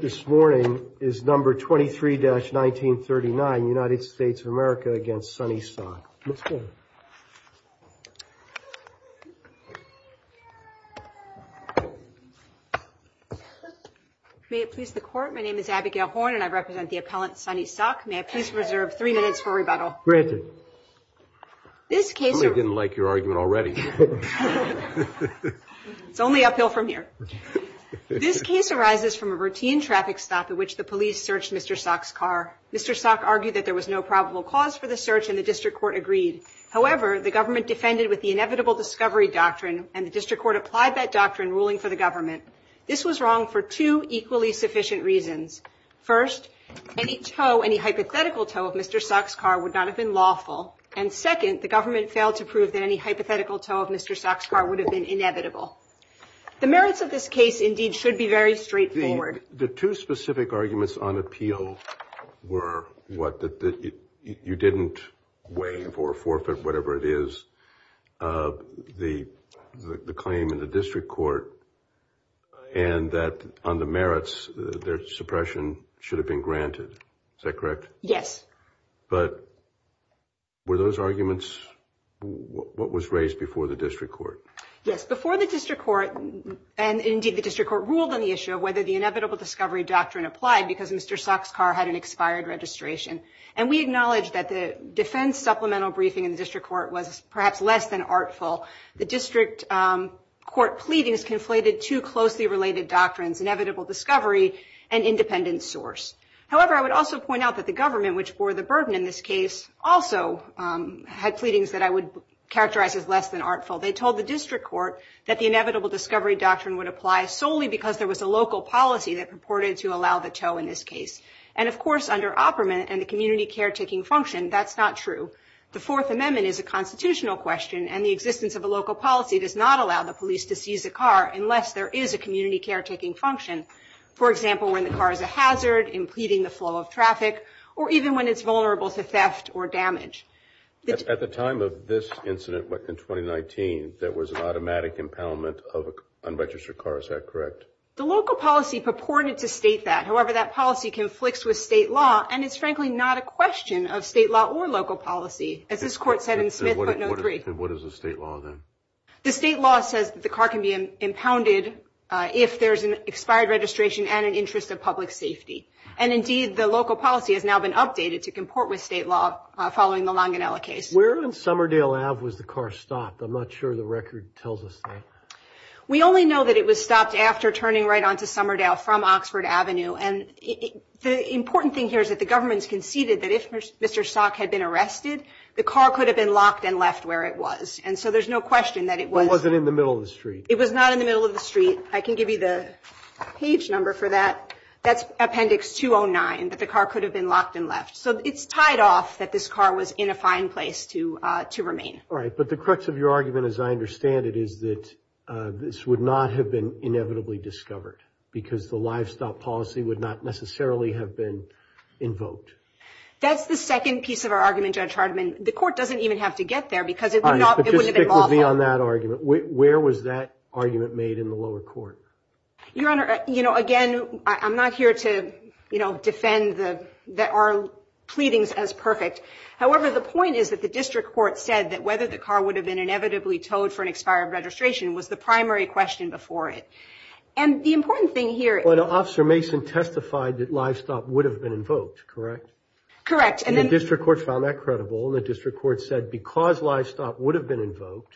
this morning is number 23-1939 United States of America against Sonny Sok. May it please the court, my name is Abigail Horn and I represent the appellant Sonny Sok. May I please reserve three minutes for rebuttal. Granted. This case... Somebody didn't like your argument already. It's only uphill from here. This case arises from a routine traffic stop in which the police searched Mr. Sok's car. Mr. Sok argued that there was no probable cause for the search and the district court agreed. However, the government defended with the inevitable discovery doctrine and the district court applied that doctrine ruling for the government. This was wrong for two equally sufficient reasons. First, any hypothetical tow of Mr. Sok's car would not have been lawful. And second, the government failed to prove that any hypothetical tow of Mr. Sok's car would have been inevitable. The merits of this case indeed should be very straightforward. The two specific arguments on appeal were what? That you didn't waive or forfeit, whatever it is, the claim in the district court and that on the merits, their suppression should have been granted. Is that correct? Yes. But were those arguments what was raised before the district court? Yes. Before the district court and indeed the district court ruled on the issue of whether the inevitable discovery doctrine applied because Mr. Sok's car had an expired registration. And we acknowledged that the defense supplemental briefing in the district court was perhaps less than artful. The district court pleadings conflated two closely related doctrines, inevitable discovery and independent source. However, I would also point out that the government, which bore the burden in this case, also had pleadings that I would characterize as less than artful. They told the district court that the inevitable discovery doctrine would apply solely because there was a local policy that purported to allow the tow in this case. And of course, under Opperman and the community caretaking function, that's not true. The Fourth Amendment is a constitutional question and the existence of a local policy does not allow the police to seize a car unless there is a community caretaking function. For example, when the car is a hazard in pleading the flow of traffic or even when it's vulnerable to theft or damage. At the time of this incident in 2019, there was an automatic impoundment of an unregistered car. Is that correct? The local policy purported to state that. However, that policy conflicts with state law and it's frankly not a question of state law or local policy. As this court said in Smith, but not three. What is the state law then? The state law says that the car can be impounded if there's an expired registration and an interest of public safety. And indeed, the local policy has now been updated to comport with state law following the Longinella case. Where in Somerdale Ave was the car stopped? I'm not sure the record tells us that. We only know that it was stopped after turning right onto Somerdale from Oxford Avenue. And the important thing here is that the government's conceded that if Mr. Stock had been arrested, the car could have been locked and left where it was. And so there's no question that it was. It wasn't in the middle of the street. It was not in the middle of the street. I can give you the page number for that. That's Appendix 209, that the car could have been locked and left. So it's tied off that this car was in a fine place to remain. All right. But the crux of your argument, as I understand it, is that this would not have been inevitably discovered because the livestock policy would not necessarily have been invoked. That's the second piece of our argument, Judge Hardiman. The court doesn't even have to get there because it would not have been lawful. All right. But just stick with me on that argument. Where was that argument made in the lower court? Your Honor, you know, again, I'm not here to, you know, defend that our pleadings as perfect. However, the point is that the district court said that whether the car would have been inevitably towed for an expired registration was the primary question before it. And the important thing here is – Well, Officer Mason testified that livestock would have been invoked, correct? Correct. And the district court found that credible, and the district court said because livestock would have been invoked,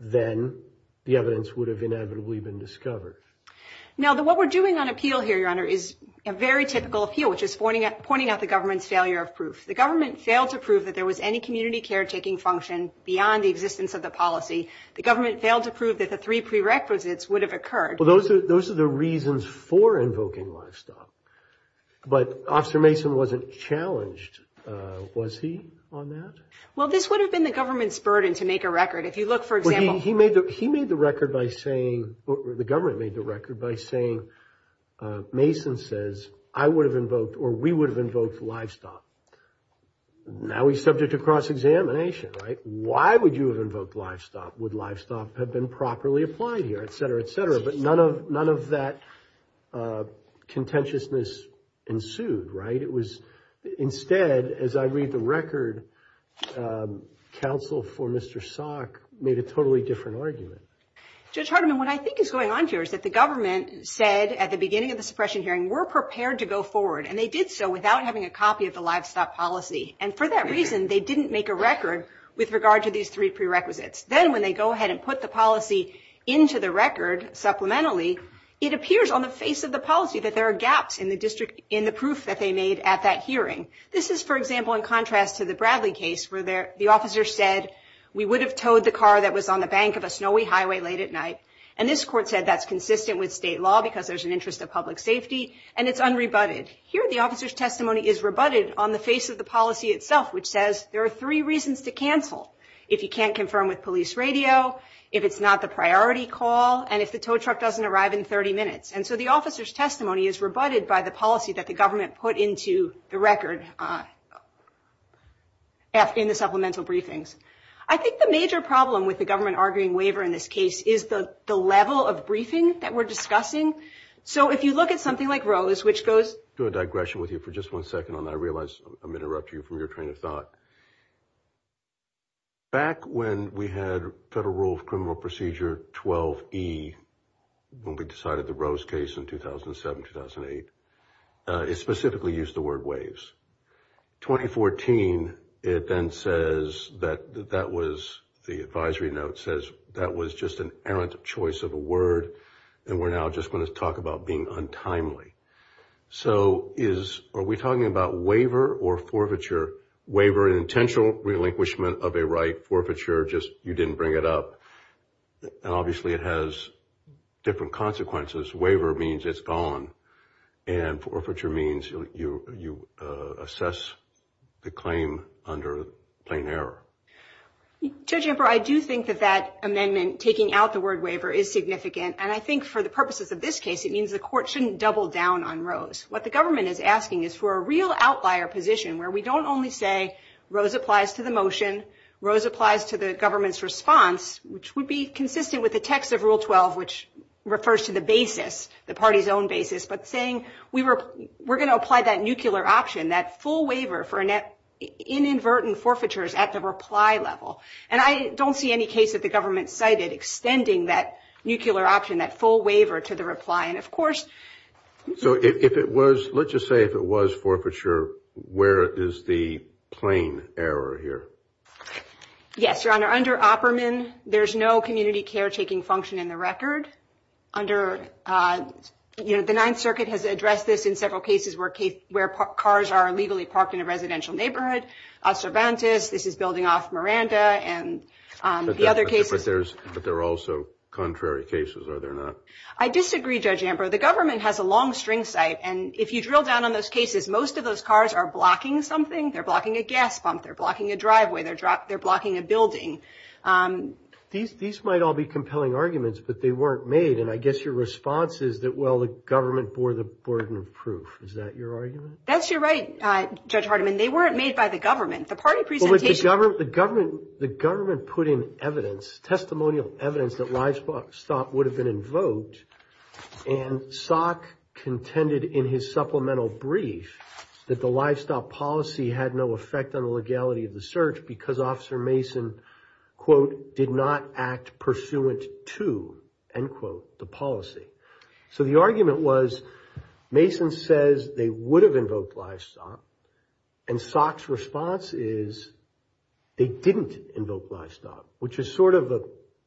then the evidence would have inevitably been discovered. Now, what we're doing on appeal here, Your Honor, is a very typical appeal, which is pointing out the government's failure of proof. The government failed to prove that there was any community caretaking function beyond the existence of the policy. The government failed to prove that the three prerequisites would have occurred. Well, those are the reasons for invoking livestock. But Officer Mason wasn't challenged, was he, on that? Well, this would have been the government's burden to make a record. If you look, for example – He made the record by saying – the government made the record by saying, Mason says, I would have invoked or we would have invoked livestock. Now he's subject to cross-examination, right? Why would you have invoked livestock? Would livestock have been properly applied here, et cetera, et cetera? But none of that contentiousness ensued, right? Instead, as I read the record, counsel for Mr. Salk made a totally different argument. Judge Hardiman, what I think is going on here is that the government said, at the beginning of the suppression hearing, we're prepared to go forward. And they did so without having a copy of the livestock policy. And for that reason, they didn't make a record with regard to these three prerequisites. Then when they go ahead and put the policy into the record, supplementally, it appears on the face of the policy that there are gaps in the proof that they made at that hearing. This is, for example, in contrast to the Bradley case where the officer said, we would have towed the car that was on the bank of a snowy highway late at night. And this court said that's consistent with state law because there's an interest of public safety. And it's unrebutted. Here, the officer's testimony is rebutted on the face of the policy itself, which says there are three reasons to cancel. If you can't confirm with police radio, if it's not the priority call, and if the tow truck doesn't arrive in 30 minutes. And so the officer's testimony is rebutted by the policy that the government put into the record in the supplemental briefings. I think the major problem with the government arguing waiver in this case is the level of briefing that we're discussing. So if you look at something like Rose, which goes to a digression with you for just one second, and I realize I'm interrupting you from your train of thought. Back when we had Federal Rule of Criminal Procedure 12E, when we decided the Rose case in 2007-2008, it specifically used the word waives. 2014, it then says that that was the advisory note says that was just an errant choice of a word, and we're now just going to talk about being untimely. So are we talking about waiver or forfeiture? Waiver, an intentional relinquishment of a right. Forfeiture, just you didn't bring it up. And obviously it has different consequences. Waiver means it's gone. And forfeiture means you assess the claim under plain error. Judge Ember, I do think that that amendment taking out the word waiver is significant, and I think for the purposes of this case it means the court shouldn't double down on Rose. What the government is asking is for a real outlier position where we don't only say Rose applies to the motion, Rose applies to the government's response, which would be consistent with the text of Rule 12, which refers to the basis, the party's own basis, but saying we're going to apply that nuclear option, that full waiver for inadvertent forfeitures at the reply level. And I don't see any case that the government cited extending that nuclear option, that full waiver to the reply. So if it was, let's just say if it was forfeiture, where is the plain error here? Yes, Your Honor, under Opperman, there's no community caretaking function in the record. The Ninth Circuit has addressed this in several cases where cars are illegally parked in a residential neighborhood. Cervantes, this is building off Miranda and the other cases. But there are also contrary cases, are there not? I disagree, Judge Ambrose. The government has a long string site. And if you drill down on those cases, most of those cars are blocking something. They're blocking a gas pump. They're blocking a driveway. They're blocking a building. These might all be compelling arguments, but they weren't made. And I guess your response is that, well, the government bore the burden of proof. Is that your argument? That's your right, Judge Hardiman. They weren't made by the government. The party presentation – But the government put in evidence, testimonial evidence that livestock would have been invoked. And Salk contended in his supplemental brief that the livestock policy had no effect on the legality of the search because Officer Mason, quote, did not act pursuant to, end quote, the policy. So the argument was Mason says they would have invoked livestock. And Salk's response is they didn't invoke livestock, which is sort of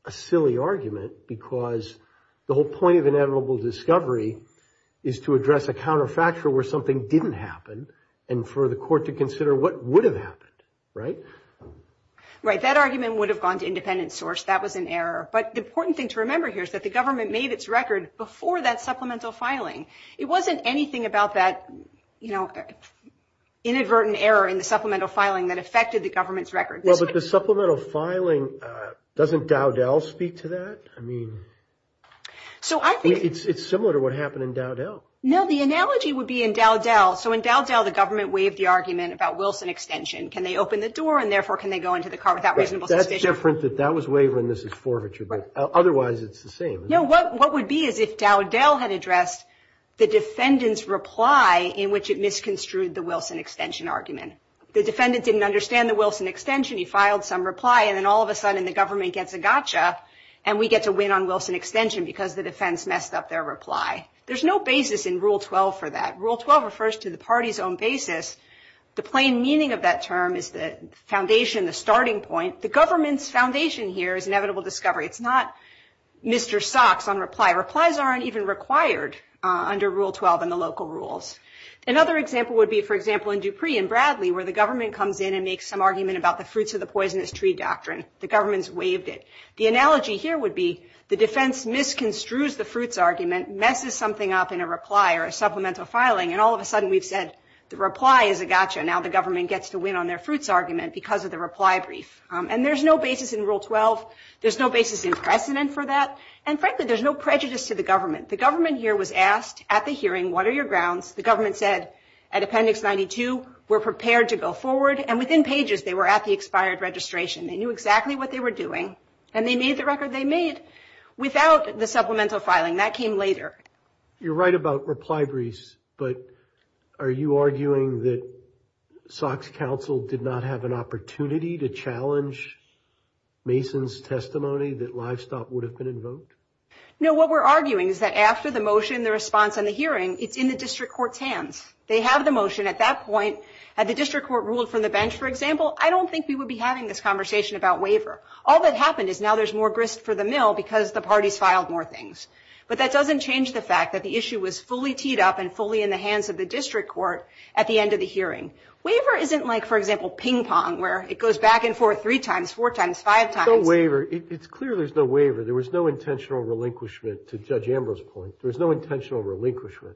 a silly argument because the whole point of inevitable discovery is to address a counterfactual where something didn't happen and for the court to consider what would have happened, right? Right. That argument would have gone to independent source. That was an error. But the important thing to remember here is that the government made its record before that supplemental filing. It wasn't anything about that, you know, inadvertent error in the supplemental filing that affected the government's record. Well, but the supplemental filing, doesn't Dowdell speak to that? I mean, it's similar to what happened in Dowdell. No, the analogy would be in Dowdell. So in Dowdell, the government waived the argument about Wilson extension. Can they open the door and therefore can they go into the car without reasonable suspicion? That's different that that was waived when this is forfeiture, but otherwise it's the same. No, what would be is if Dowdell had addressed the defendant's reply in which it misconstrued the Wilson extension argument. The defendant didn't understand the Wilson extension. He filed some reply and then all of a sudden the government gets a gotcha and we get to win on Wilson extension because the defense messed up their reply. There's no basis in Rule 12 for that. Rule 12 refers to the party's own basis. The plain meaning of that term is the foundation, the starting point. The government's foundation here is inevitable discovery. It's not Mr. Socks on reply. Replies aren't even required under Rule 12 and the local rules. Another example would be, for example, in Dupree and Bradley where the government comes in and makes some argument about the fruits of the poisonous tree doctrine. The government's waived it. The analogy here would be the defense misconstrues the fruits argument, messes something up in a reply or a supplemental filing, and all of a sudden we've said the reply is a gotcha. Now the government gets to win on their fruits argument because of the reply brief. And there's no basis in Rule 12. There's no basis in precedent for that. And, frankly, there's no prejudice to the government. The government here was asked at the hearing, what are your grounds? The government said at Appendix 92 we're prepared to go forward, and within pages they were at the expired registration. They knew exactly what they were doing, and they made the record they made without the supplemental filing. That came later. You're right about reply briefs, but are you arguing that SOC's counsel did not have an opportunity to challenge Mason's testimony that livestock would have been invoked? No, what we're arguing is that after the motion, the response, and the hearing, it's in the district court's hands. They have the motion at that point. Had the district court ruled from the bench, for example, I don't think we would be having this conversation about waiver. All that happened is now there's more grist for the mill because the parties filed more things. But that doesn't change the fact that the issue was fully teed up and fully in the hands of the district court at the end of the hearing. Waiver isn't like, for example, ping pong, where it goes back and forth three times, four times, five times. No waiver. It's clear there's no waiver. There was no intentional relinquishment, to Judge Ambrose's point. There was no intentional relinquishment.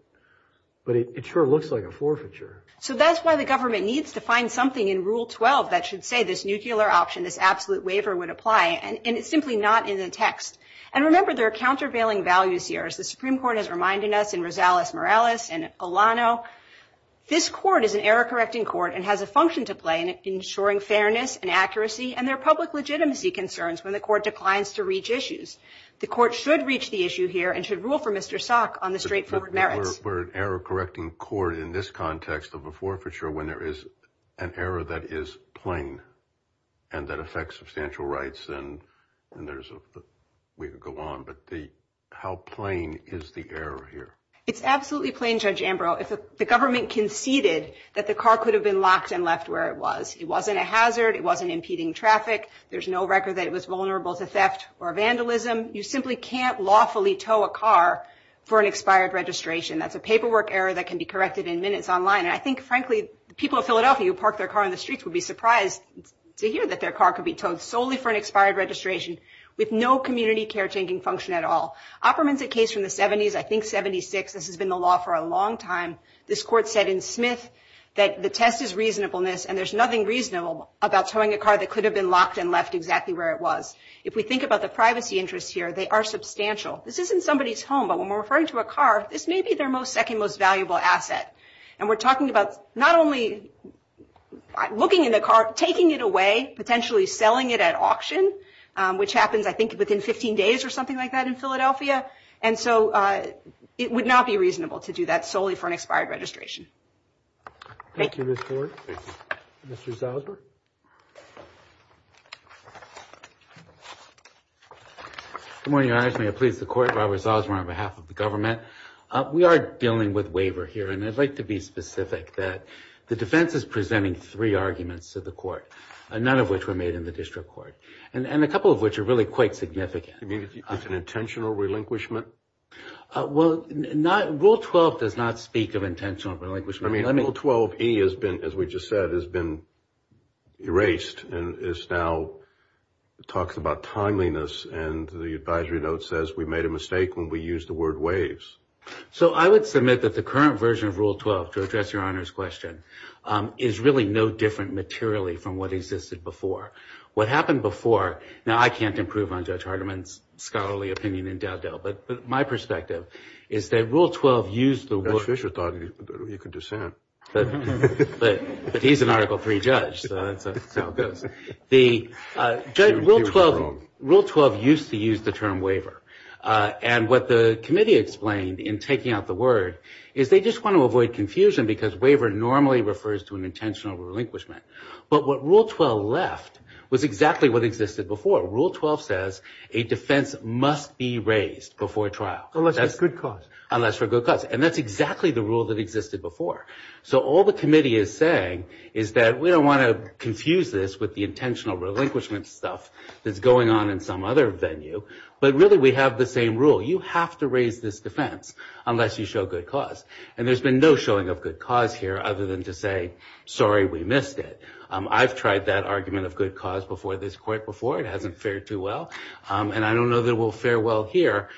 But it sure looks like a forfeiture. So that's why the government needs to find something in Rule 12 that should say this nuclear option, this absolute waiver would apply, and it's simply not in the text. And remember, there are countervailing values here. As the Supreme Court has reminded us in Rosales-Morales and Olano, this court is an error-correcting court and has a function to play in ensuring fairness and accuracy, and there are public legitimacy concerns when the court declines to reach issues. The court should reach the issue here and should rule for Mr. Salk on the straightforward merits. But we're an error-correcting court in this context of a forfeiture when there is an error that is plain and that affects substantial rights, and there's a way to go on. But how plain is the error here? It's absolutely plain, Judge Ambrose. If the government conceded that the car could have been locked and left where it was, it wasn't a hazard, it wasn't impeding traffic, there's no record that it was vulnerable to theft or vandalism. You simply can't lawfully tow a car for an expired registration. That's a paperwork error that can be corrected in minutes online. And I think, frankly, the people of Philadelphia who park their car on the streets would be surprised to hear that their car could be towed solely for an expired registration with no community caretaking function at all. Opperman's a case from the 70s, I think 76. This has been the law for a long time. This court said in Smith that the test is reasonableness and there's nothing reasonable about towing a car that could have been locked and left exactly where it was. If we think about the privacy interests here, they are substantial. This isn't somebody's home, but when we're referring to a car, this may be their second most valuable asset. And we're talking about not only looking at a car, taking it away, potentially selling it at auction, which happens, I think, within 15 days or something like that in Philadelphia. And so it would not be reasonable to do that solely for an expired registration. Thank you, Ms. Ford. Mr. Salzberg. Good morning, Your Honor. May it please the Court, Robert Salzberg on behalf of the government. We are dealing with waiver here, and I'd like to be specific that the defense is presenting three arguments to the Court, none of which were made in the district court, and a couple of which are really quite significant. You mean it's an intentional relinquishment? Well, Rule 12 does not speak of intentional relinquishment. Rule 12E, as we just said, has been erased. It now talks about timeliness, and the advisory note says we made a mistake when we used the word waives. So I would submit that the current version of Rule 12, to address Your Honor's question, is really no different materially from what existed before. What happened before, now I can't improve on Judge Hardiman's scholarly opinion in Dowdell, but my perspective is that Rule 12 used the word. Judge Fischer thought you could dissent. But he's an Article III judge, so that's how it goes. Rule 12 used to use the term waiver. And what the committee explained in taking out the word is they just want to avoid confusion because waiver normally refers to an intentional relinquishment. But what Rule 12 left was exactly what existed before. Rule 12 says a defense must be raised before trial. Unless for good cause. Unless for good cause. And that's exactly the rule that existed before. So all the committee is saying is that we don't want to confuse this with the intentional relinquishment stuff that's going on in some other venue. But really we have the same rule. You have to raise this defense unless you show good cause. And there's been no showing of good cause here other than to say, sorry, we missed it. I've tried that argument of good cause before this court before. It hasn't fared too well. And I don't know that it will fare well here.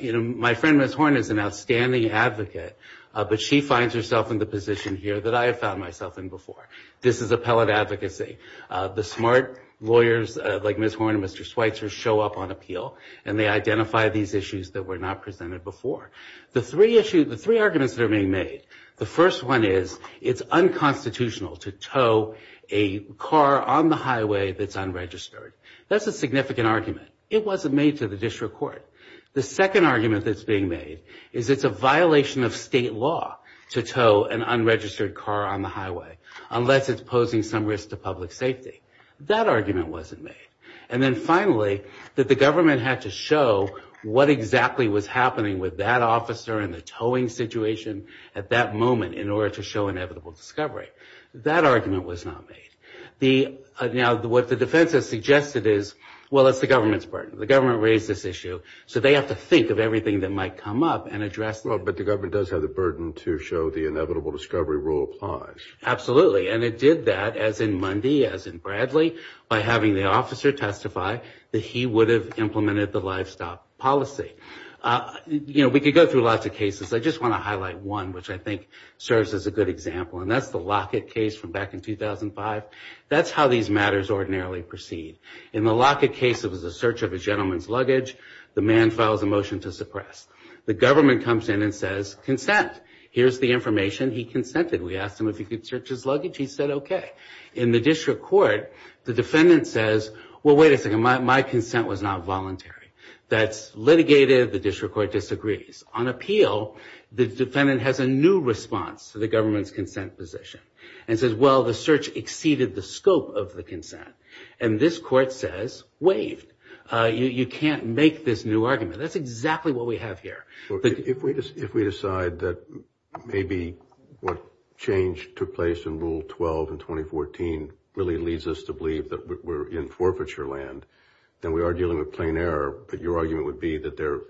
My friend, Ms. Horn, is an outstanding advocate, but she finds herself in the position here that I have found myself in before. This is appellate advocacy. The smart lawyers like Ms. Horn and Mr. Schweitzer show up on appeal and they identify these issues that were not presented before. The three arguments that are being made, the first one is, it's unconstitutional to tow a car on the highway that's unregistered. That's a significant argument. It wasn't made to the district court. The second argument that's being made is it's a violation of state law to tow an unregistered car on the highway unless it's posing some risk to public safety. That argument wasn't made. And then finally, that the government had to show what exactly was happening with that officer and the towing situation at that moment in order to show inevitable discovery. That argument was not made. Now, what the defense has suggested is, well, it's the government's burden. The government raised this issue, so they have to think of everything that might come up and address it. But the government does have the burden to show the inevitable discovery rule applies. Absolutely, and it did that, as in Mundy, as in Bradley, by having the officer testify that he would have implemented the livestock policy. You know, we could go through lots of cases. I just want to highlight one which I think serves as a good example, and that's the Lockett case from back in 2005. That's how these matters ordinarily proceed. In the Lockett case, it was a search of a gentleman's luggage. The man files a motion to suppress. The government comes in and says, consent. Here's the information. He consented. We asked him if he could search his luggage. He said, okay. In the district court, the defendant says, well, wait a second. My consent was not voluntary. That's litigated. The district court disagrees. On appeal, the defendant has a new response to the government's consent position and says, well, the search exceeded the scope of the consent. And this court says, waived. You can't make this new argument. That's exactly what we have here. If we decide that maybe what change took place in Rule 12 in 2014 really leads us to believe that we're in forfeiture land, then we are dealing with plain error. But your argument would be that there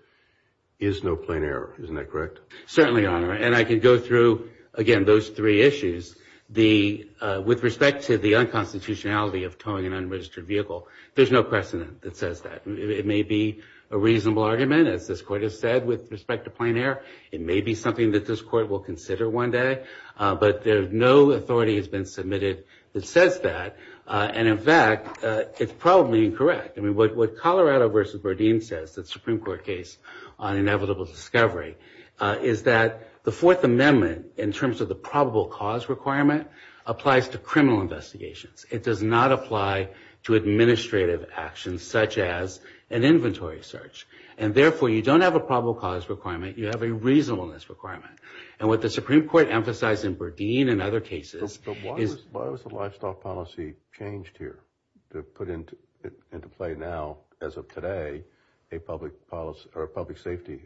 is no plain error. Isn't that correct? Certainly, Your Honor. And I could go through, again, those three issues. With respect to the unconstitutionality of towing an unregistered vehicle, there's no precedent that says that. It may be a reasonable argument, as this court has said, with respect to plain error. It may be something that this court will consider one day. But no authority has been submitted that says that. And, in fact, it's probably incorrect. I mean, what Colorado v. Berdeen says, the Supreme Court case on inevitable discovery, is that the Fourth Amendment, in terms of the probable cause requirement, applies to criminal investigations. It does not apply to administrative actions, such as an inventory search. And, therefore, you don't have a probable cause requirement. You have a reasonableness requirement. And what the Supreme Court emphasized in Berdeen and other cases is... But why was the livestock policy changed here to put into play now, as of today, a public policy or a public safety?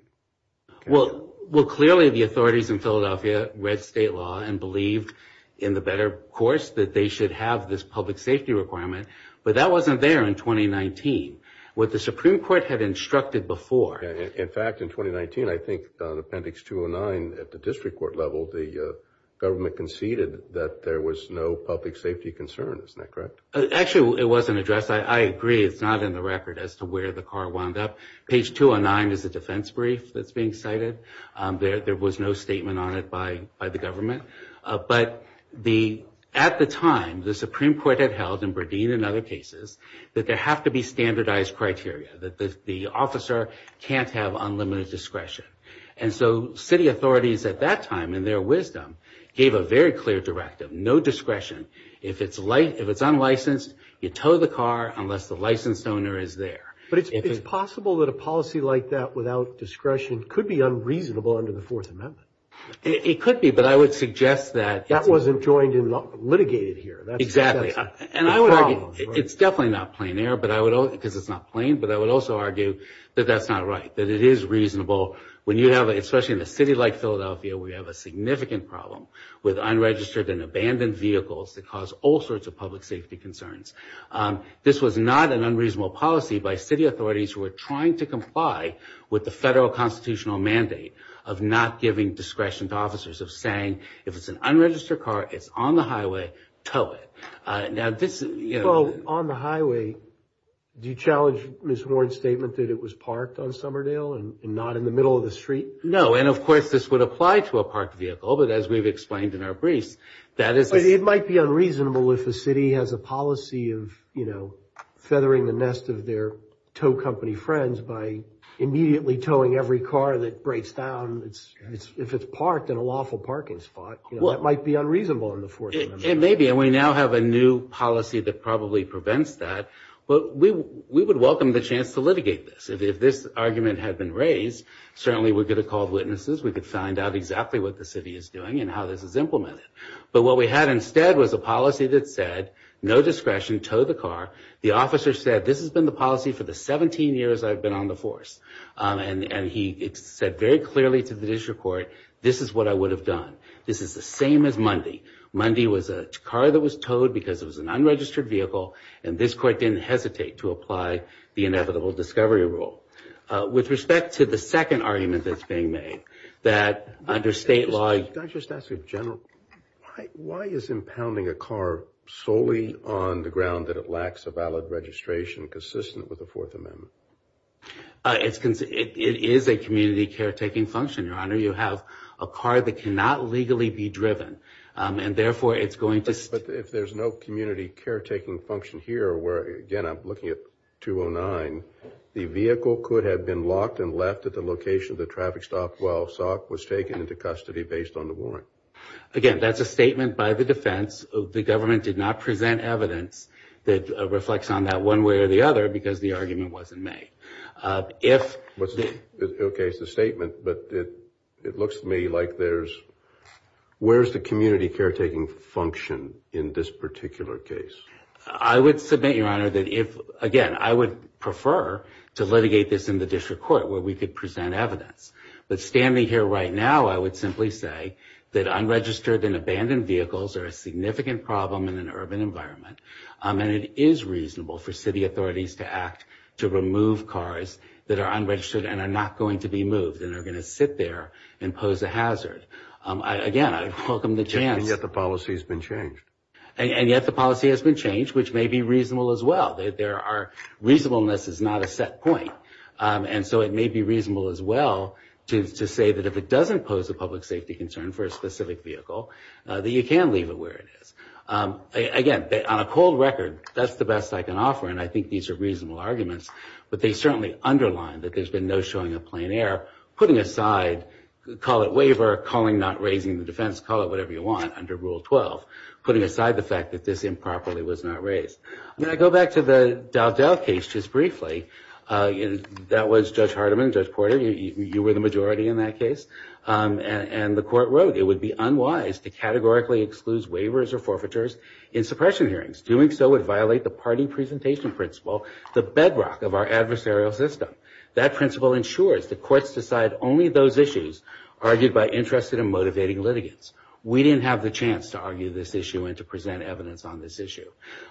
Well, clearly the authorities in Philadelphia read state law and believed, in the better course, that they should have this public safety requirement. But that wasn't there in 2019. What the Supreme Court had instructed before... In fact, in 2019, I think, on Appendix 209, at the district court level, the government conceded that there was no public safety concern. Isn't that correct? Actually, it wasn't addressed. I agree it's not in the record as to where the car wound up. Page 209 is a defense brief that's being cited. There was no statement on it by the government. But at the time, the Supreme Court had held, in Berdeen and other cases, that there have to be standardized criteria, that the officer can't have unlimited discretion. And so city authorities at that time, in their wisdom, gave a very clear directive, no discretion. If it's unlicensed, you tow the car unless the licensed owner is there. But it's possible that a policy like that, without discretion, could be unreasonable under the Fourth Amendment. It could be, but I would suggest that... That wasn't joined and litigated here. Exactly. And I would argue, it's definitely not plain error, because it's not plain, but I would also argue that that's not right, that it is reasonable, when you have, especially in a city like Philadelphia, where you have a significant problem with unregistered and abandoned vehicles that cause all sorts of public safety concerns. This was not an unreasonable policy by city authorities who were trying to comply with the federal constitutional mandate of not giving discretion to officers, of saying, if it's an unregistered car, it's on the highway, tow it. Well, on the highway, do you challenge Ms. Warren's statement that it was parked on Somerdale and not in the middle of the street? No, and of course, this would apply to a parked vehicle, but as we've explained in our briefs, that is... It might be unreasonable if a city has a policy of, you know, feathering the nest of their tow company friends by immediately towing every car that breaks down, if it's parked in a lawful parking spot. That might be unreasonable in the Fourth Amendment. It may be, and we now have a new policy that probably prevents that, but we would welcome the chance to litigate this. If this argument had been raised, certainly we could have called witnesses, we could find out exactly what the city is doing and how this is implemented. But what we had instead was a policy that said, no discretion, tow the car. The officer said, this has been the policy for the 17 years I've been on the force. And he said very clearly to the district court, this is what I would have done. This is the same as Mundy. Mundy was a car that was towed because it was an unregistered vehicle, and this court didn't hesitate to apply the inevitable discovery rule. With respect to the second argument that's being made, that under state law... Can I just ask a general... Why is impounding a car solely on the ground that it lacks a valid registration consistent with the Fourth Amendment? It is a community caretaking function, Your Honor. You have a car that cannot legally be driven, and therefore it's going to... But if there's no community caretaking function here, where, again, I'm looking at 209, the vehicle could have been locked and left at the location of the traffic stop while Sauk was taken into custody based on the warrant. Again, that's a statement by the defense. The government did not present evidence that reflects on that one way or the other because the argument wasn't made. If... Okay, it's a statement, but it looks to me like there's... Where's the community caretaking function in this particular case? I would submit, Your Honor, that if... Again, I would prefer to litigate this in the district court where we could present evidence. But standing here right now, I would simply say that unregistered and abandoned vehicles are a significant problem in an urban environment, and it is reasonable for city authorities to act to remove cars that are unregistered and are not going to be moved and are going to sit there and pose a hazard. Again, I welcome the chance... And yet the policy has been changed. And yet the policy has been changed, which may be reasonable as well. There are... Reasonableness is not a set point. And so it may be reasonable as well to say that if it doesn't pose a public safety concern for a specific vehicle, that you can leave it where it is. Again, on a cold record, that's the best I can offer, and I think these are reasonable arguments. But they certainly underline that there's been no showing of plain air, putting aside, call it waiver, calling not raising the defense, call it whatever you want under Rule 12, putting aside the fact that this improperly was not raised. I'm going to go back to the Dow-Dow case just briefly. That was Judge Hardiman, Judge Porter. You were the majority in that case. And the court wrote, it would be unwise to categorically exclude waivers or forfeitures in suppression hearings. Doing so would violate the party presentation principle, the bedrock of our adversarial system. That principle ensures that courts decide only those issues argued by interested and motivating litigants. We didn't have the chance to argue this issue and to present evidence on this issue.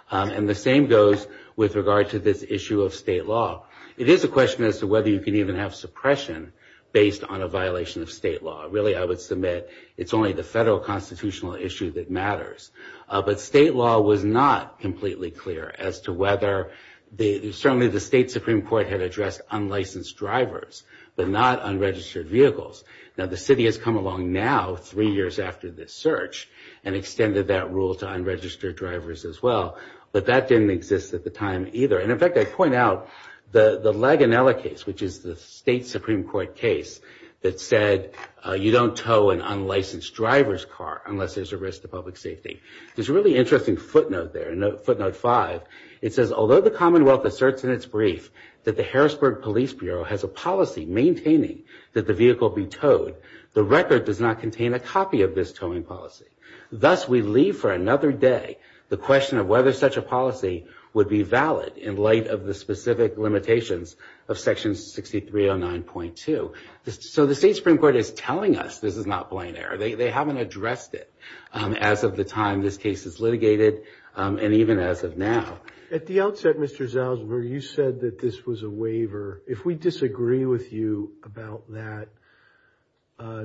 And the same goes with regard to this issue of state law. It is a question as to whether you can even have suppression based on a violation of state law. Really, I would submit it's only the federal constitutional issue that matters. But state law was not completely clear as to whether certainly the state Supreme Court had addressed unlicensed drivers, but not unregistered vehicles. Now, the city has come along now, three years after this search, and extended that rule to unregistered drivers as well. But that didn't exist at the time either. And in fact, I point out, the Laganella case, which is the state Supreme Court case that said, you don't tow an unlicensed driver's car unless there's a risk to public safety. There's a really interesting footnote there, footnote five. It says, although the Commonwealth asserts in its brief that the Harrisburg Police Bureau has a policy maintaining that the vehicle be towed, the record does not contain a copy of this towing policy. Thus, we leave for another day the question of whether such a policy would be valid in light of the specific limitations of Section 6309.2. So the state Supreme Court is telling us this is not plain error. They haven't addressed it as of the time this case is litigated, and even as of now. At the outset, Mr. Salzberg, you said that this was a waiver. If we disagree with you about that,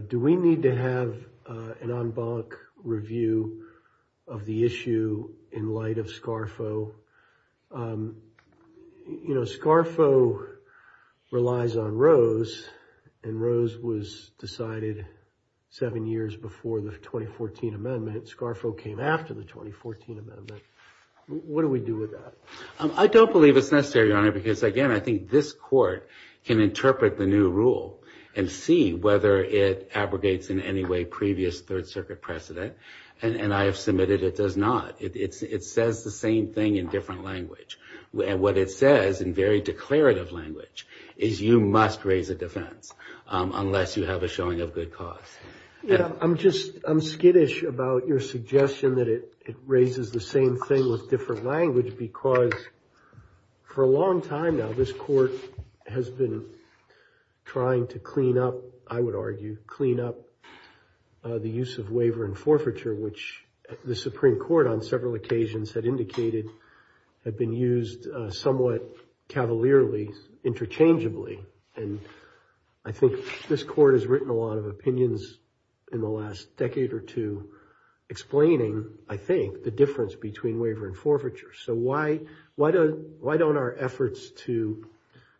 do we need to have an en banc review of the issue in light of SCARFO? You know, SCARFO relies on Rose, and Rose was decided seven years before the 2014 amendment. SCARFO came after the 2014 amendment. What do we do with that? I don't believe it's necessary, Your Honor, because, again, I think this Court can interpret the new rule and see whether it abrogates in any way previous Third Circuit precedent, and I have submitted it does not. It says the same thing in different language, and what it says in very declarative language is you must raise a defense unless you have a showing of good cause. I'm just skittish about your suggestion that it raises the same thing with different language because for a long time now this Court has been trying to clean up, I would argue, clean up the use of waiver and forfeiture, which the Supreme Court on several occasions had indicated had been used somewhat cavalierly, interchangeably, and I think this Court has written a lot of opinions in the last decade or two explaining, I think, the difference between waiver and forfeiture. So why don't our efforts to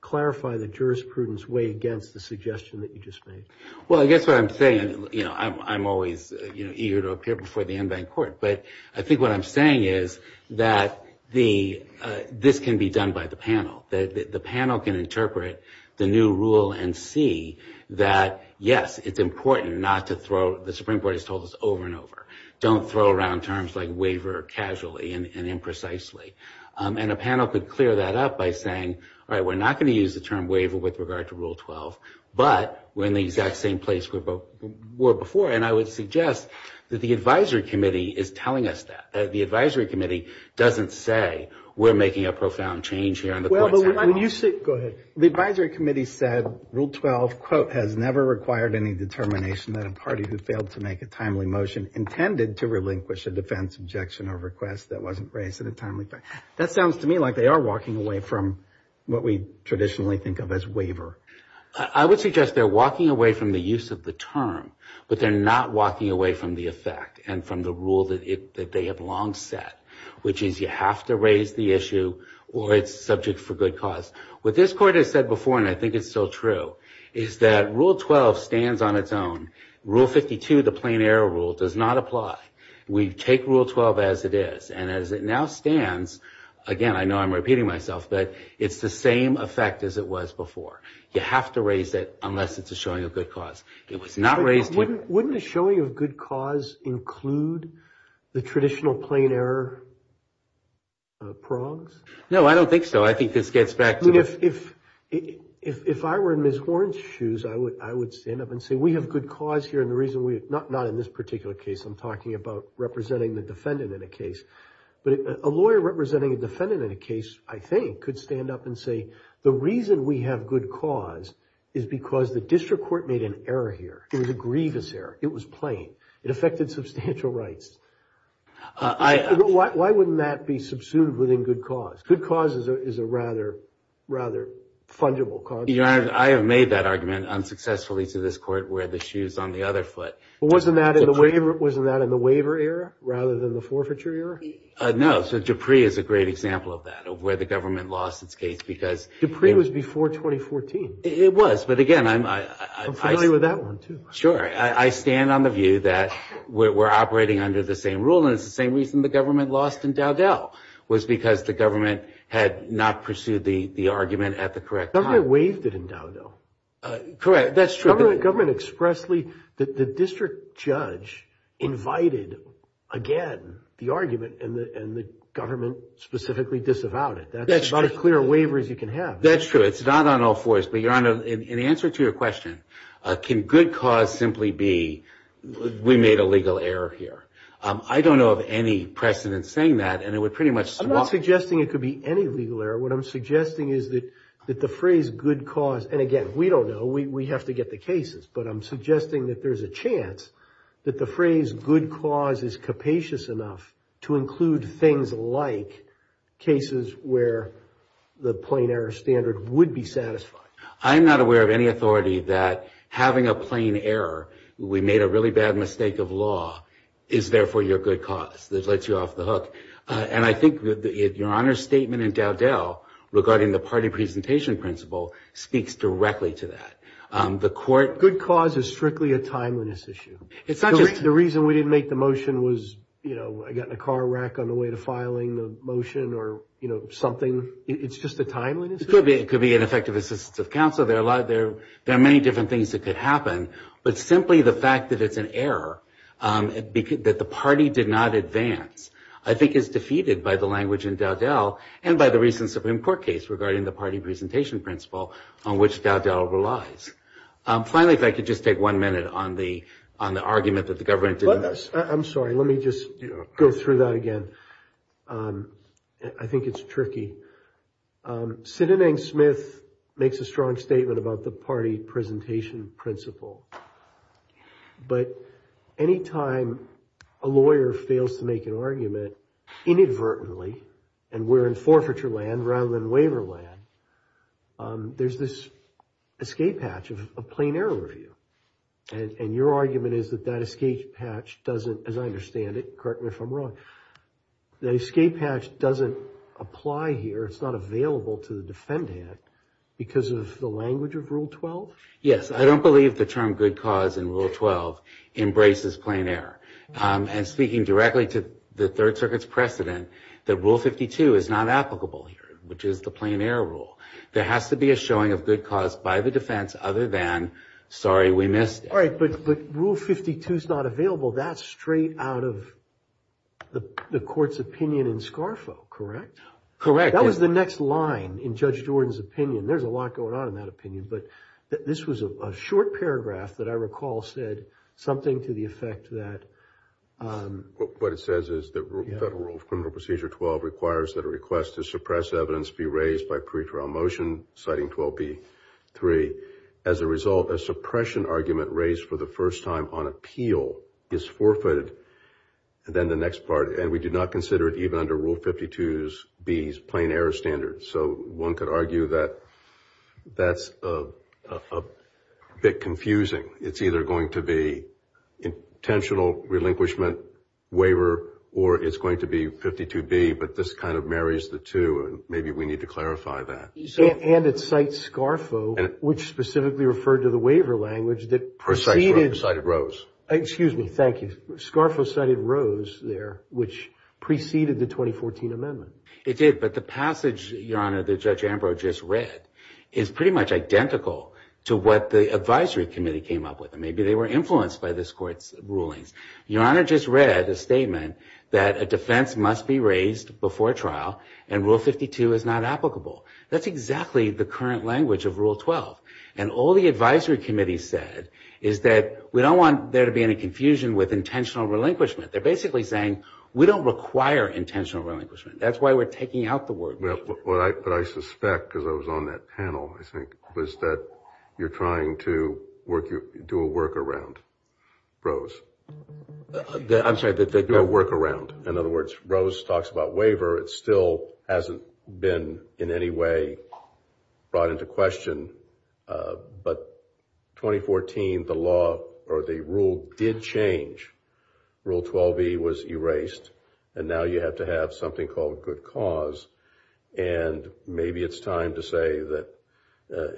clarify the jurisprudence weigh against the suggestion that you just made? Well, I guess what I'm saying, you know, I'm always eager to appear before the en banc Court, but I think what I'm saying is that this can be done by the panel. The panel can interpret the new rule and see that, yes, it's important not to throw, the Supreme Court has told us over and over, don't throw around terms like waiver casually and imprecisely. And a panel could clear that up by saying, all right, we're not going to use the term waiver with regard to Rule 12, but we're in the exact same place we were before, and I would suggest that the Advisory Committee is telling us that, that the Advisory Committee doesn't say we're making a profound change here. Go ahead. The Advisory Committee said Rule 12, quote, intended to relinquish a defense objection or request that wasn't raised in a timely fashion. That sounds to me like they are walking away from what we traditionally think of as waiver. I would suggest they're walking away from the use of the term, but they're not walking away from the effect and from the rule that they have long set, which is you have to raise the issue or it's subject for good cause. What this Court has said before, and I think it's still true, is that Rule 12 stands on its own. Rule 52, the plain error rule, does not apply. We take Rule 12 as it is. And as it now stands, again, I know I'm repeating myself, but it's the same effect as it was before. You have to raise it unless it's a showing of good cause. It was not raised here. Wouldn't a showing of good cause include the traditional plain error progs? No, I don't think so. I think this gets back to the – If I were in Ms. Horne's shoes, I would stand up and say we have good cause here, and the reason we – not in this particular case. I'm talking about representing the defendant in a case. But a lawyer representing a defendant in a case, I think, could stand up and say the reason we have good cause is because the district court made an error here. It was a grievous error. It was plain. It affected substantial rights. Why wouldn't that be subsumed within good cause? Good cause is a rather fungible cause. Your Honor, I have made that argument unsuccessfully to this court, where the shoe is on the other foot. Wasn't that in the waiver era rather than the forfeiture era? No. So Dupree is a great example of that, of where the government lost its case because – Dupree was before 2014. It was. But, again, I'm – I'm familiar with that one, too. Sure. I stand on the view that we're operating under the same rule, and it's the same reason the government lost in Dowdell, was because the government had not pursued the argument at the correct time. The government waived it in Dowdell. Correct. That's true. The government expressly – the district judge invited, again, the argument, and the government specifically disavowed it. That's true. That's about as clear a waiver as you can have. That's true. It's not on all fours. But, Your Honor, in answer to your question, can good cause simply be we made a legal error here? I don't know of any precedent saying that, and it would pretty much – I'm not suggesting it could be any legal error. What I'm suggesting is that the phrase good cause – and, again, we don't know. We have to get the cases. But I'm suggesting that there's a chance that the phrase good cause is capacious enough to include things like cases where the plain error standard would be satisfied. I am not aware of any authority that having a plain error, we made a really bad mistake of law, is, therefore, your good cause, that lets you off the hook. And I think that Your Honor's statement in Dowdell regarding the party presentation principle speaks directly to that. The court – Good cause is strictly a timeliness issue. It's not just – The reason we didn't make the motion was, you know, I got in a car wreck on the way to filing the motion or, you know, something. It's just a timeliness issue. It could be ineffective assistance of counsel. There are many different things that could happen. But simply the fact that it's an error, that the party did not advance, I think is defeated by the language in Dowdell and by the recent Supreme Court case regarding the party presentation principle on which Dowdell relies. Finally, if I could just take one minute on the argument that the government didn't – I'm sorry. Let me just go through that again. I think it's tricky. Sinanang Smith makes a strong statement about the party presentation principle. But any time a lawyer fails to make an argument inadvertently and we're in forfeiture land rather than waiver land, there's this escape hatch of a plain error review. And your argument is that that escape hatch doesn't – as I understand it, correct me if I'm wrong – that escape hatch doesn't apply here, it's not available to the defendant because of the language of Rule 12? Yes. I don't believe the term good cause in Rule 12 embraces plain error. And speaking directly to the Third Circuit's precedent, that Rule 52 is not applicable here, which is the plain error rule. There has to be a showing of good cause by the defense other than, sorry, we missed it. All right. But Rule 52 is not available. That's straight out of the court's opinion in Scarfo, correct? Correct. That was the next line in Judge Jordan's opinion. There's a lot going on in that opinion. But this was a short paragraph that I recall said something to the effect that – What it says is that Federal Rule of Criminal Procedure 12 requires that a request to suppress evidence be raised by pre-trial motion, citing 12b.3. As a result, a suppression argument raised for the first time on appeal is forfeited. Then the next part, and we do not consider it even under Rule 52b's plain error standard. So one could argue that that's a bit confusing. It's either going to be intentional relinquishment waiver or it's going to be 52b, but this kind of marries the two, and maybe we need to clarify that. And it cites Scarfo, which specifically referred to the waiver language that preceded – It cited Rose. Excuse me. Thank you. Scarfo cited Rose there, which preceded the 2014 amendment. It did. But the passage, Your Honor, that Judge Ambrose just read is pretty much identical to what the advisory committee came up with. Maybe they were influenced by this court's rulings. Your Honor just read a statement that a defense must be raised before trial, and Rule 52 is not applicable. That's exactly the current language of Rule 12. And all the advisory committee said is that we don't want there to be any confusion with intentional relinquishment. They're basically saying we don't require intentional relinquishment. That's why we're taking out the word. But I suspect, because I was on that panel, I think, was that you're trying to do a workaround, Rose. I'm sorry. Do a workaround. In other words, Rose talks about waiver. It still hasn't been in any way brought into question. But 2014, the law or the rule did change. Rule 12e was erased. And now you have to have something called good cause. And maybe it's time to say that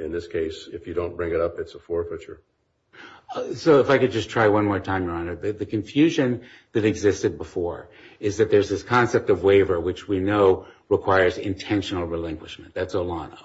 in this case, if you don't bring it up, it's a forfeiture. So if I could just try one more time, Your Honor. The confusion that existed before is that there's this concept of waiver, which we know requires intentional relinquishment. That's Olano.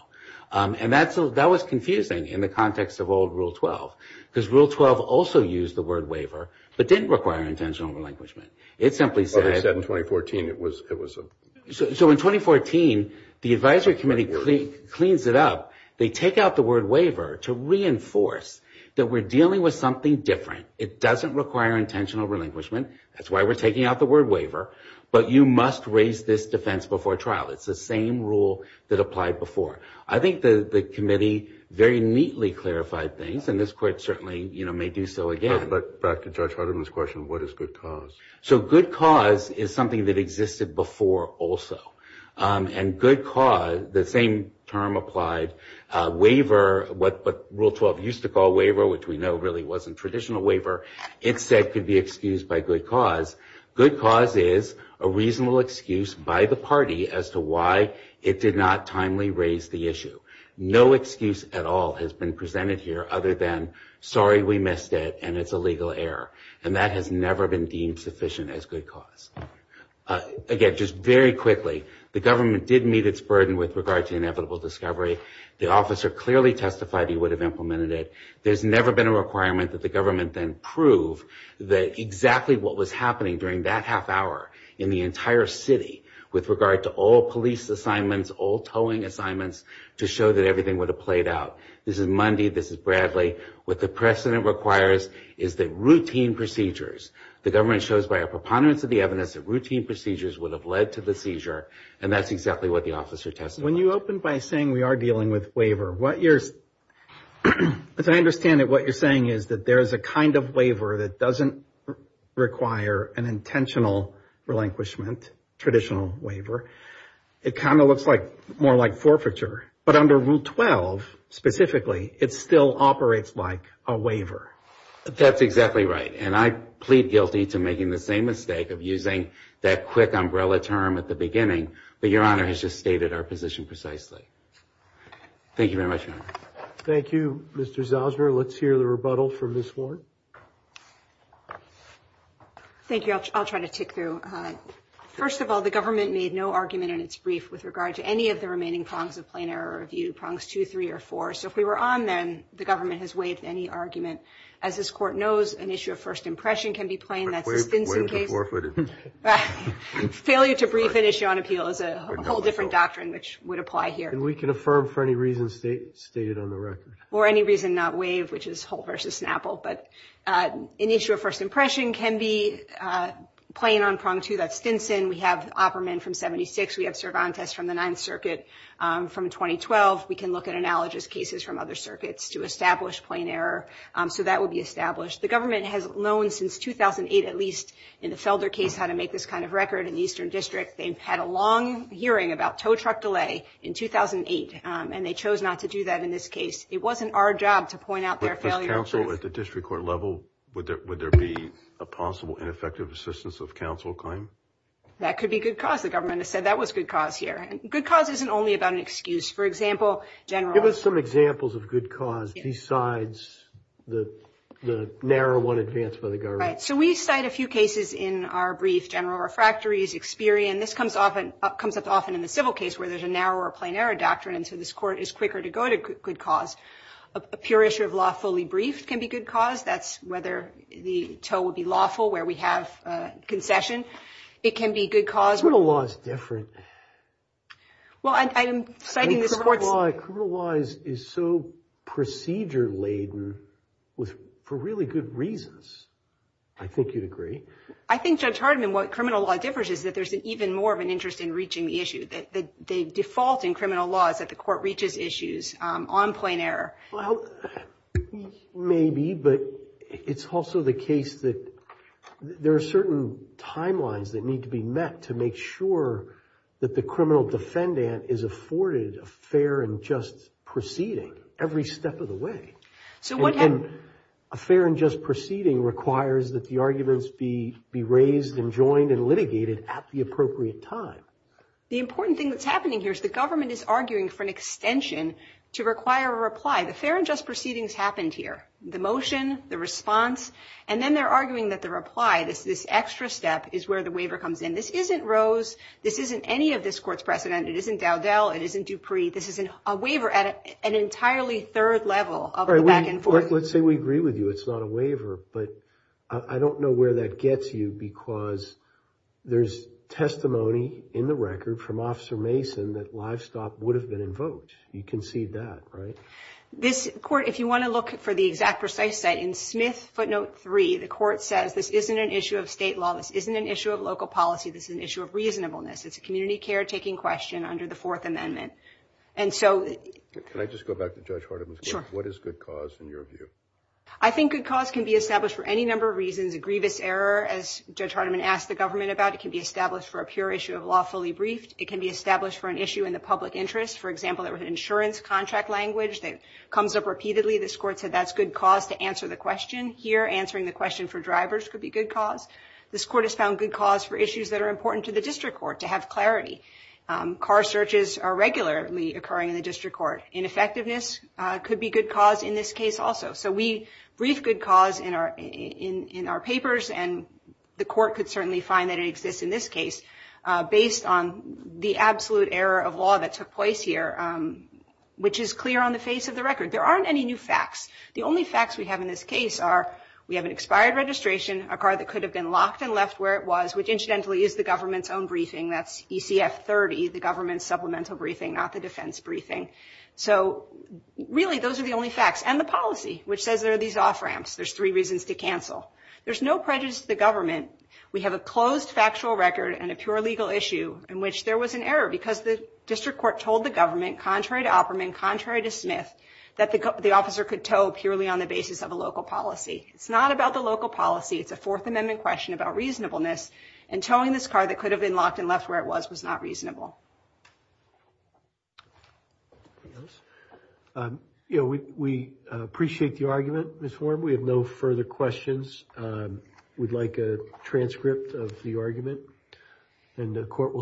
And that was confusing in the context of old Rule 12, because Rule 12 also used the word waiver, but didn't require intentional relinquishment. It simply said – Well, they said in 2014 it was a – So in 2014, the advisory committee cleans it up. They take out the word waiver to reinforce that we're dealing with something different. It doesn't require intentional relinquishment. That's why we're taking out the word waiver. But you must raise this defense before trial. It's the same rule that applied before. I think the committee very neatly clarified things, and this Court certainly may do so again. But back to Judge Hardiman's question, what is good cause? So good cause is something that existed before also. And good cause, the same term applied. Waiver, what Rule 12 used to call waiver, which we know really wasn't traditional waiver, it said could be excused by good cause. Good cause is a reasonable excuse by the party as to why it did not timely raise the issue. No excuse at all has been presented here other than, sorry, we missed it, and it's a legal error. And that has never been deemed sufficient as good cause. Again, just very quickly, the government did meet its burden with regard to inevitable discovery. The officer clearly testified he would have implemented it. There's never been a requirement that the government then prove that exactly what was happening during that half hour in the entire city with regard to all police assignments, all towing assignments, to show that everything would have played out. This is Mundy. This is Bradley. What the precedent requires is that routine procedures, the government shows by a preponderance of the evidence, that routine procedures would have led to the seizure, and that's exactly what the officer testified. When you open by saying we are dealing with waiver, as I understand it, what you're saying is that there is a kind of waiver that doesn't require an intentional relinquishment, traditional waiver. It kind of looks more like forfeiture. But under Rule 12, specifically, it still operates like a waiver. That's exactly right, and I plead guilty to making the same mistake of using that quick umbrella term at the beginning, but Your Honor has just stated our position precisely. Thank you very much, Your Honor. Thank you, Mr. Zauser. Let's hear the rebuttal from Ms. Warren. Thank you. I'll try to tick through. First of all, the government made no argument in its brief with regard to any of the remaining prongs of plain error review, prongs two, three, or four. So if we were on then, the government has waived any argument. As this Court knows, an issue of first impression can be plain. That's the Stinson case. Waive the forfeited. Failure to brief an issue on appeal is a whole different doctrine, which would apply here. And we can affirm for any reason stated on the record. Or any reason not waive, which is Holt v. Snapple. But an issue of first impression can be plain on prong two. That's Stinson. We have Opperman from 76. We have Cervantes from the Ninth Circuit from 2012. We can look at analogous cases from other circuits to establish plain error. So that would be established. The government has known since 2008, at least, in the Felder case, how to make this kind of record in the Eastern District. They've had a long hearing about tow truck delay in 2008, and they chose not to do that in this case. It wasn't our job to point out their failure. But for counsel at the district court level, would there be a possible ineffective assistance of counsel claim? That could be good cause. The government has said that was good cause here. Good cause isn't only about an excuse. For example, General. Give us some examples of good cause besides the narrow one advanced by the government. All right. So we cite a few cases in our brief. General refractories, Experian. This comes up often in the civil case where there's a narrower plain error doctrine, and so this court is quicker to go to good cause. A pure issue of law fully briefed can be good cause. That's whether the tow would be lawful where we have concession. It can be good cause. Criminal law is different. Well, I am citing this court's – I think you'd agree. I think, Judge Hardiman, what criminal law differs is that there's even more of an interest in reaching the issue, that the default in criminal law is that the court reaches issues on plain error. Well, maybe, but it's also the case that there are certain timelines that need to be met to make sure that the criminal defendant is afforded a fair and just proceeding every step of the way. A fair and just proceeding requires that the arguments be raised and joined and litigated at the appropriate time. The important thing that's happening here is the government is arguing for an extension to require a reply. The fair and just proceedings happened here, the motion, the response, and then they're arguing that the reply, this extra step, is where the waiver comes in. This isn't Rose. This isn't any of this court's precedent. It isn't Dowdell. It isn't Dupree. This is a waiver at an entirely third level of the back and forth. Let's say we agree with you it's not a waiver, but I don't know where that gets you because there's testimony in the record from Officer Mason that livestock would have been invoked. You concede that, right? This court, if you want to look for the exact precise site, in Smith Footnote 3, the court says this isn't an issue of state law. This isn't an issue of local policy. This is an issue of reasonableness. It's a community care taking question under the Fourth Amendment. Can I just go back to Judge Hardiman's point? Sure. What is good cause in your view? I think good cause can be established for any number of reasons. A grievous error, as Judge Hardiman asked the government about, it can be established for a pure issue of lawfully briefed. It can be established for an issue in the public interest. For example, there was an insurance contract language that comes up repeatedly. This court said that's good cause to answer the question. Here, answering the question for drivers could be good cause. This court has found good cause for issues that are important to the district court, to have clarity. Car searches are regularly occurring in the district court. Ineffectiveness could be good cause in this case also. So we brief good cause in our papers, and the court could certainly find that it exists in this case, based on the absolute error of law that took place here, which is clear on the face of the record. There aren't any new facts. The only facts we have in this case are we have an expired registration, a car that could have been locked and left where it was, which incidentally is the government's own briefing. That's ECF 30, the government's supplemental briefing, not the defense briefing. So really those are the only facts, and the policy, which says there are these off-ramps. There's three reasons to cancel. There's no prejudice to the government. We have a closed factual record and a pure legal issue in which there was an error, because the district court told the government, contrary to Opperman, contrary to Smith, that the officer could tow purely on the basis of a local policy. It's not about the local policy. It's a Fourth Amendment question about reasonableness, and towing this car that could have been locked and left where it was was not reasonable. We appreciate the argument, Ms. Warren. We have no further questions. We'd like a transcript of the argument, and the court will take it.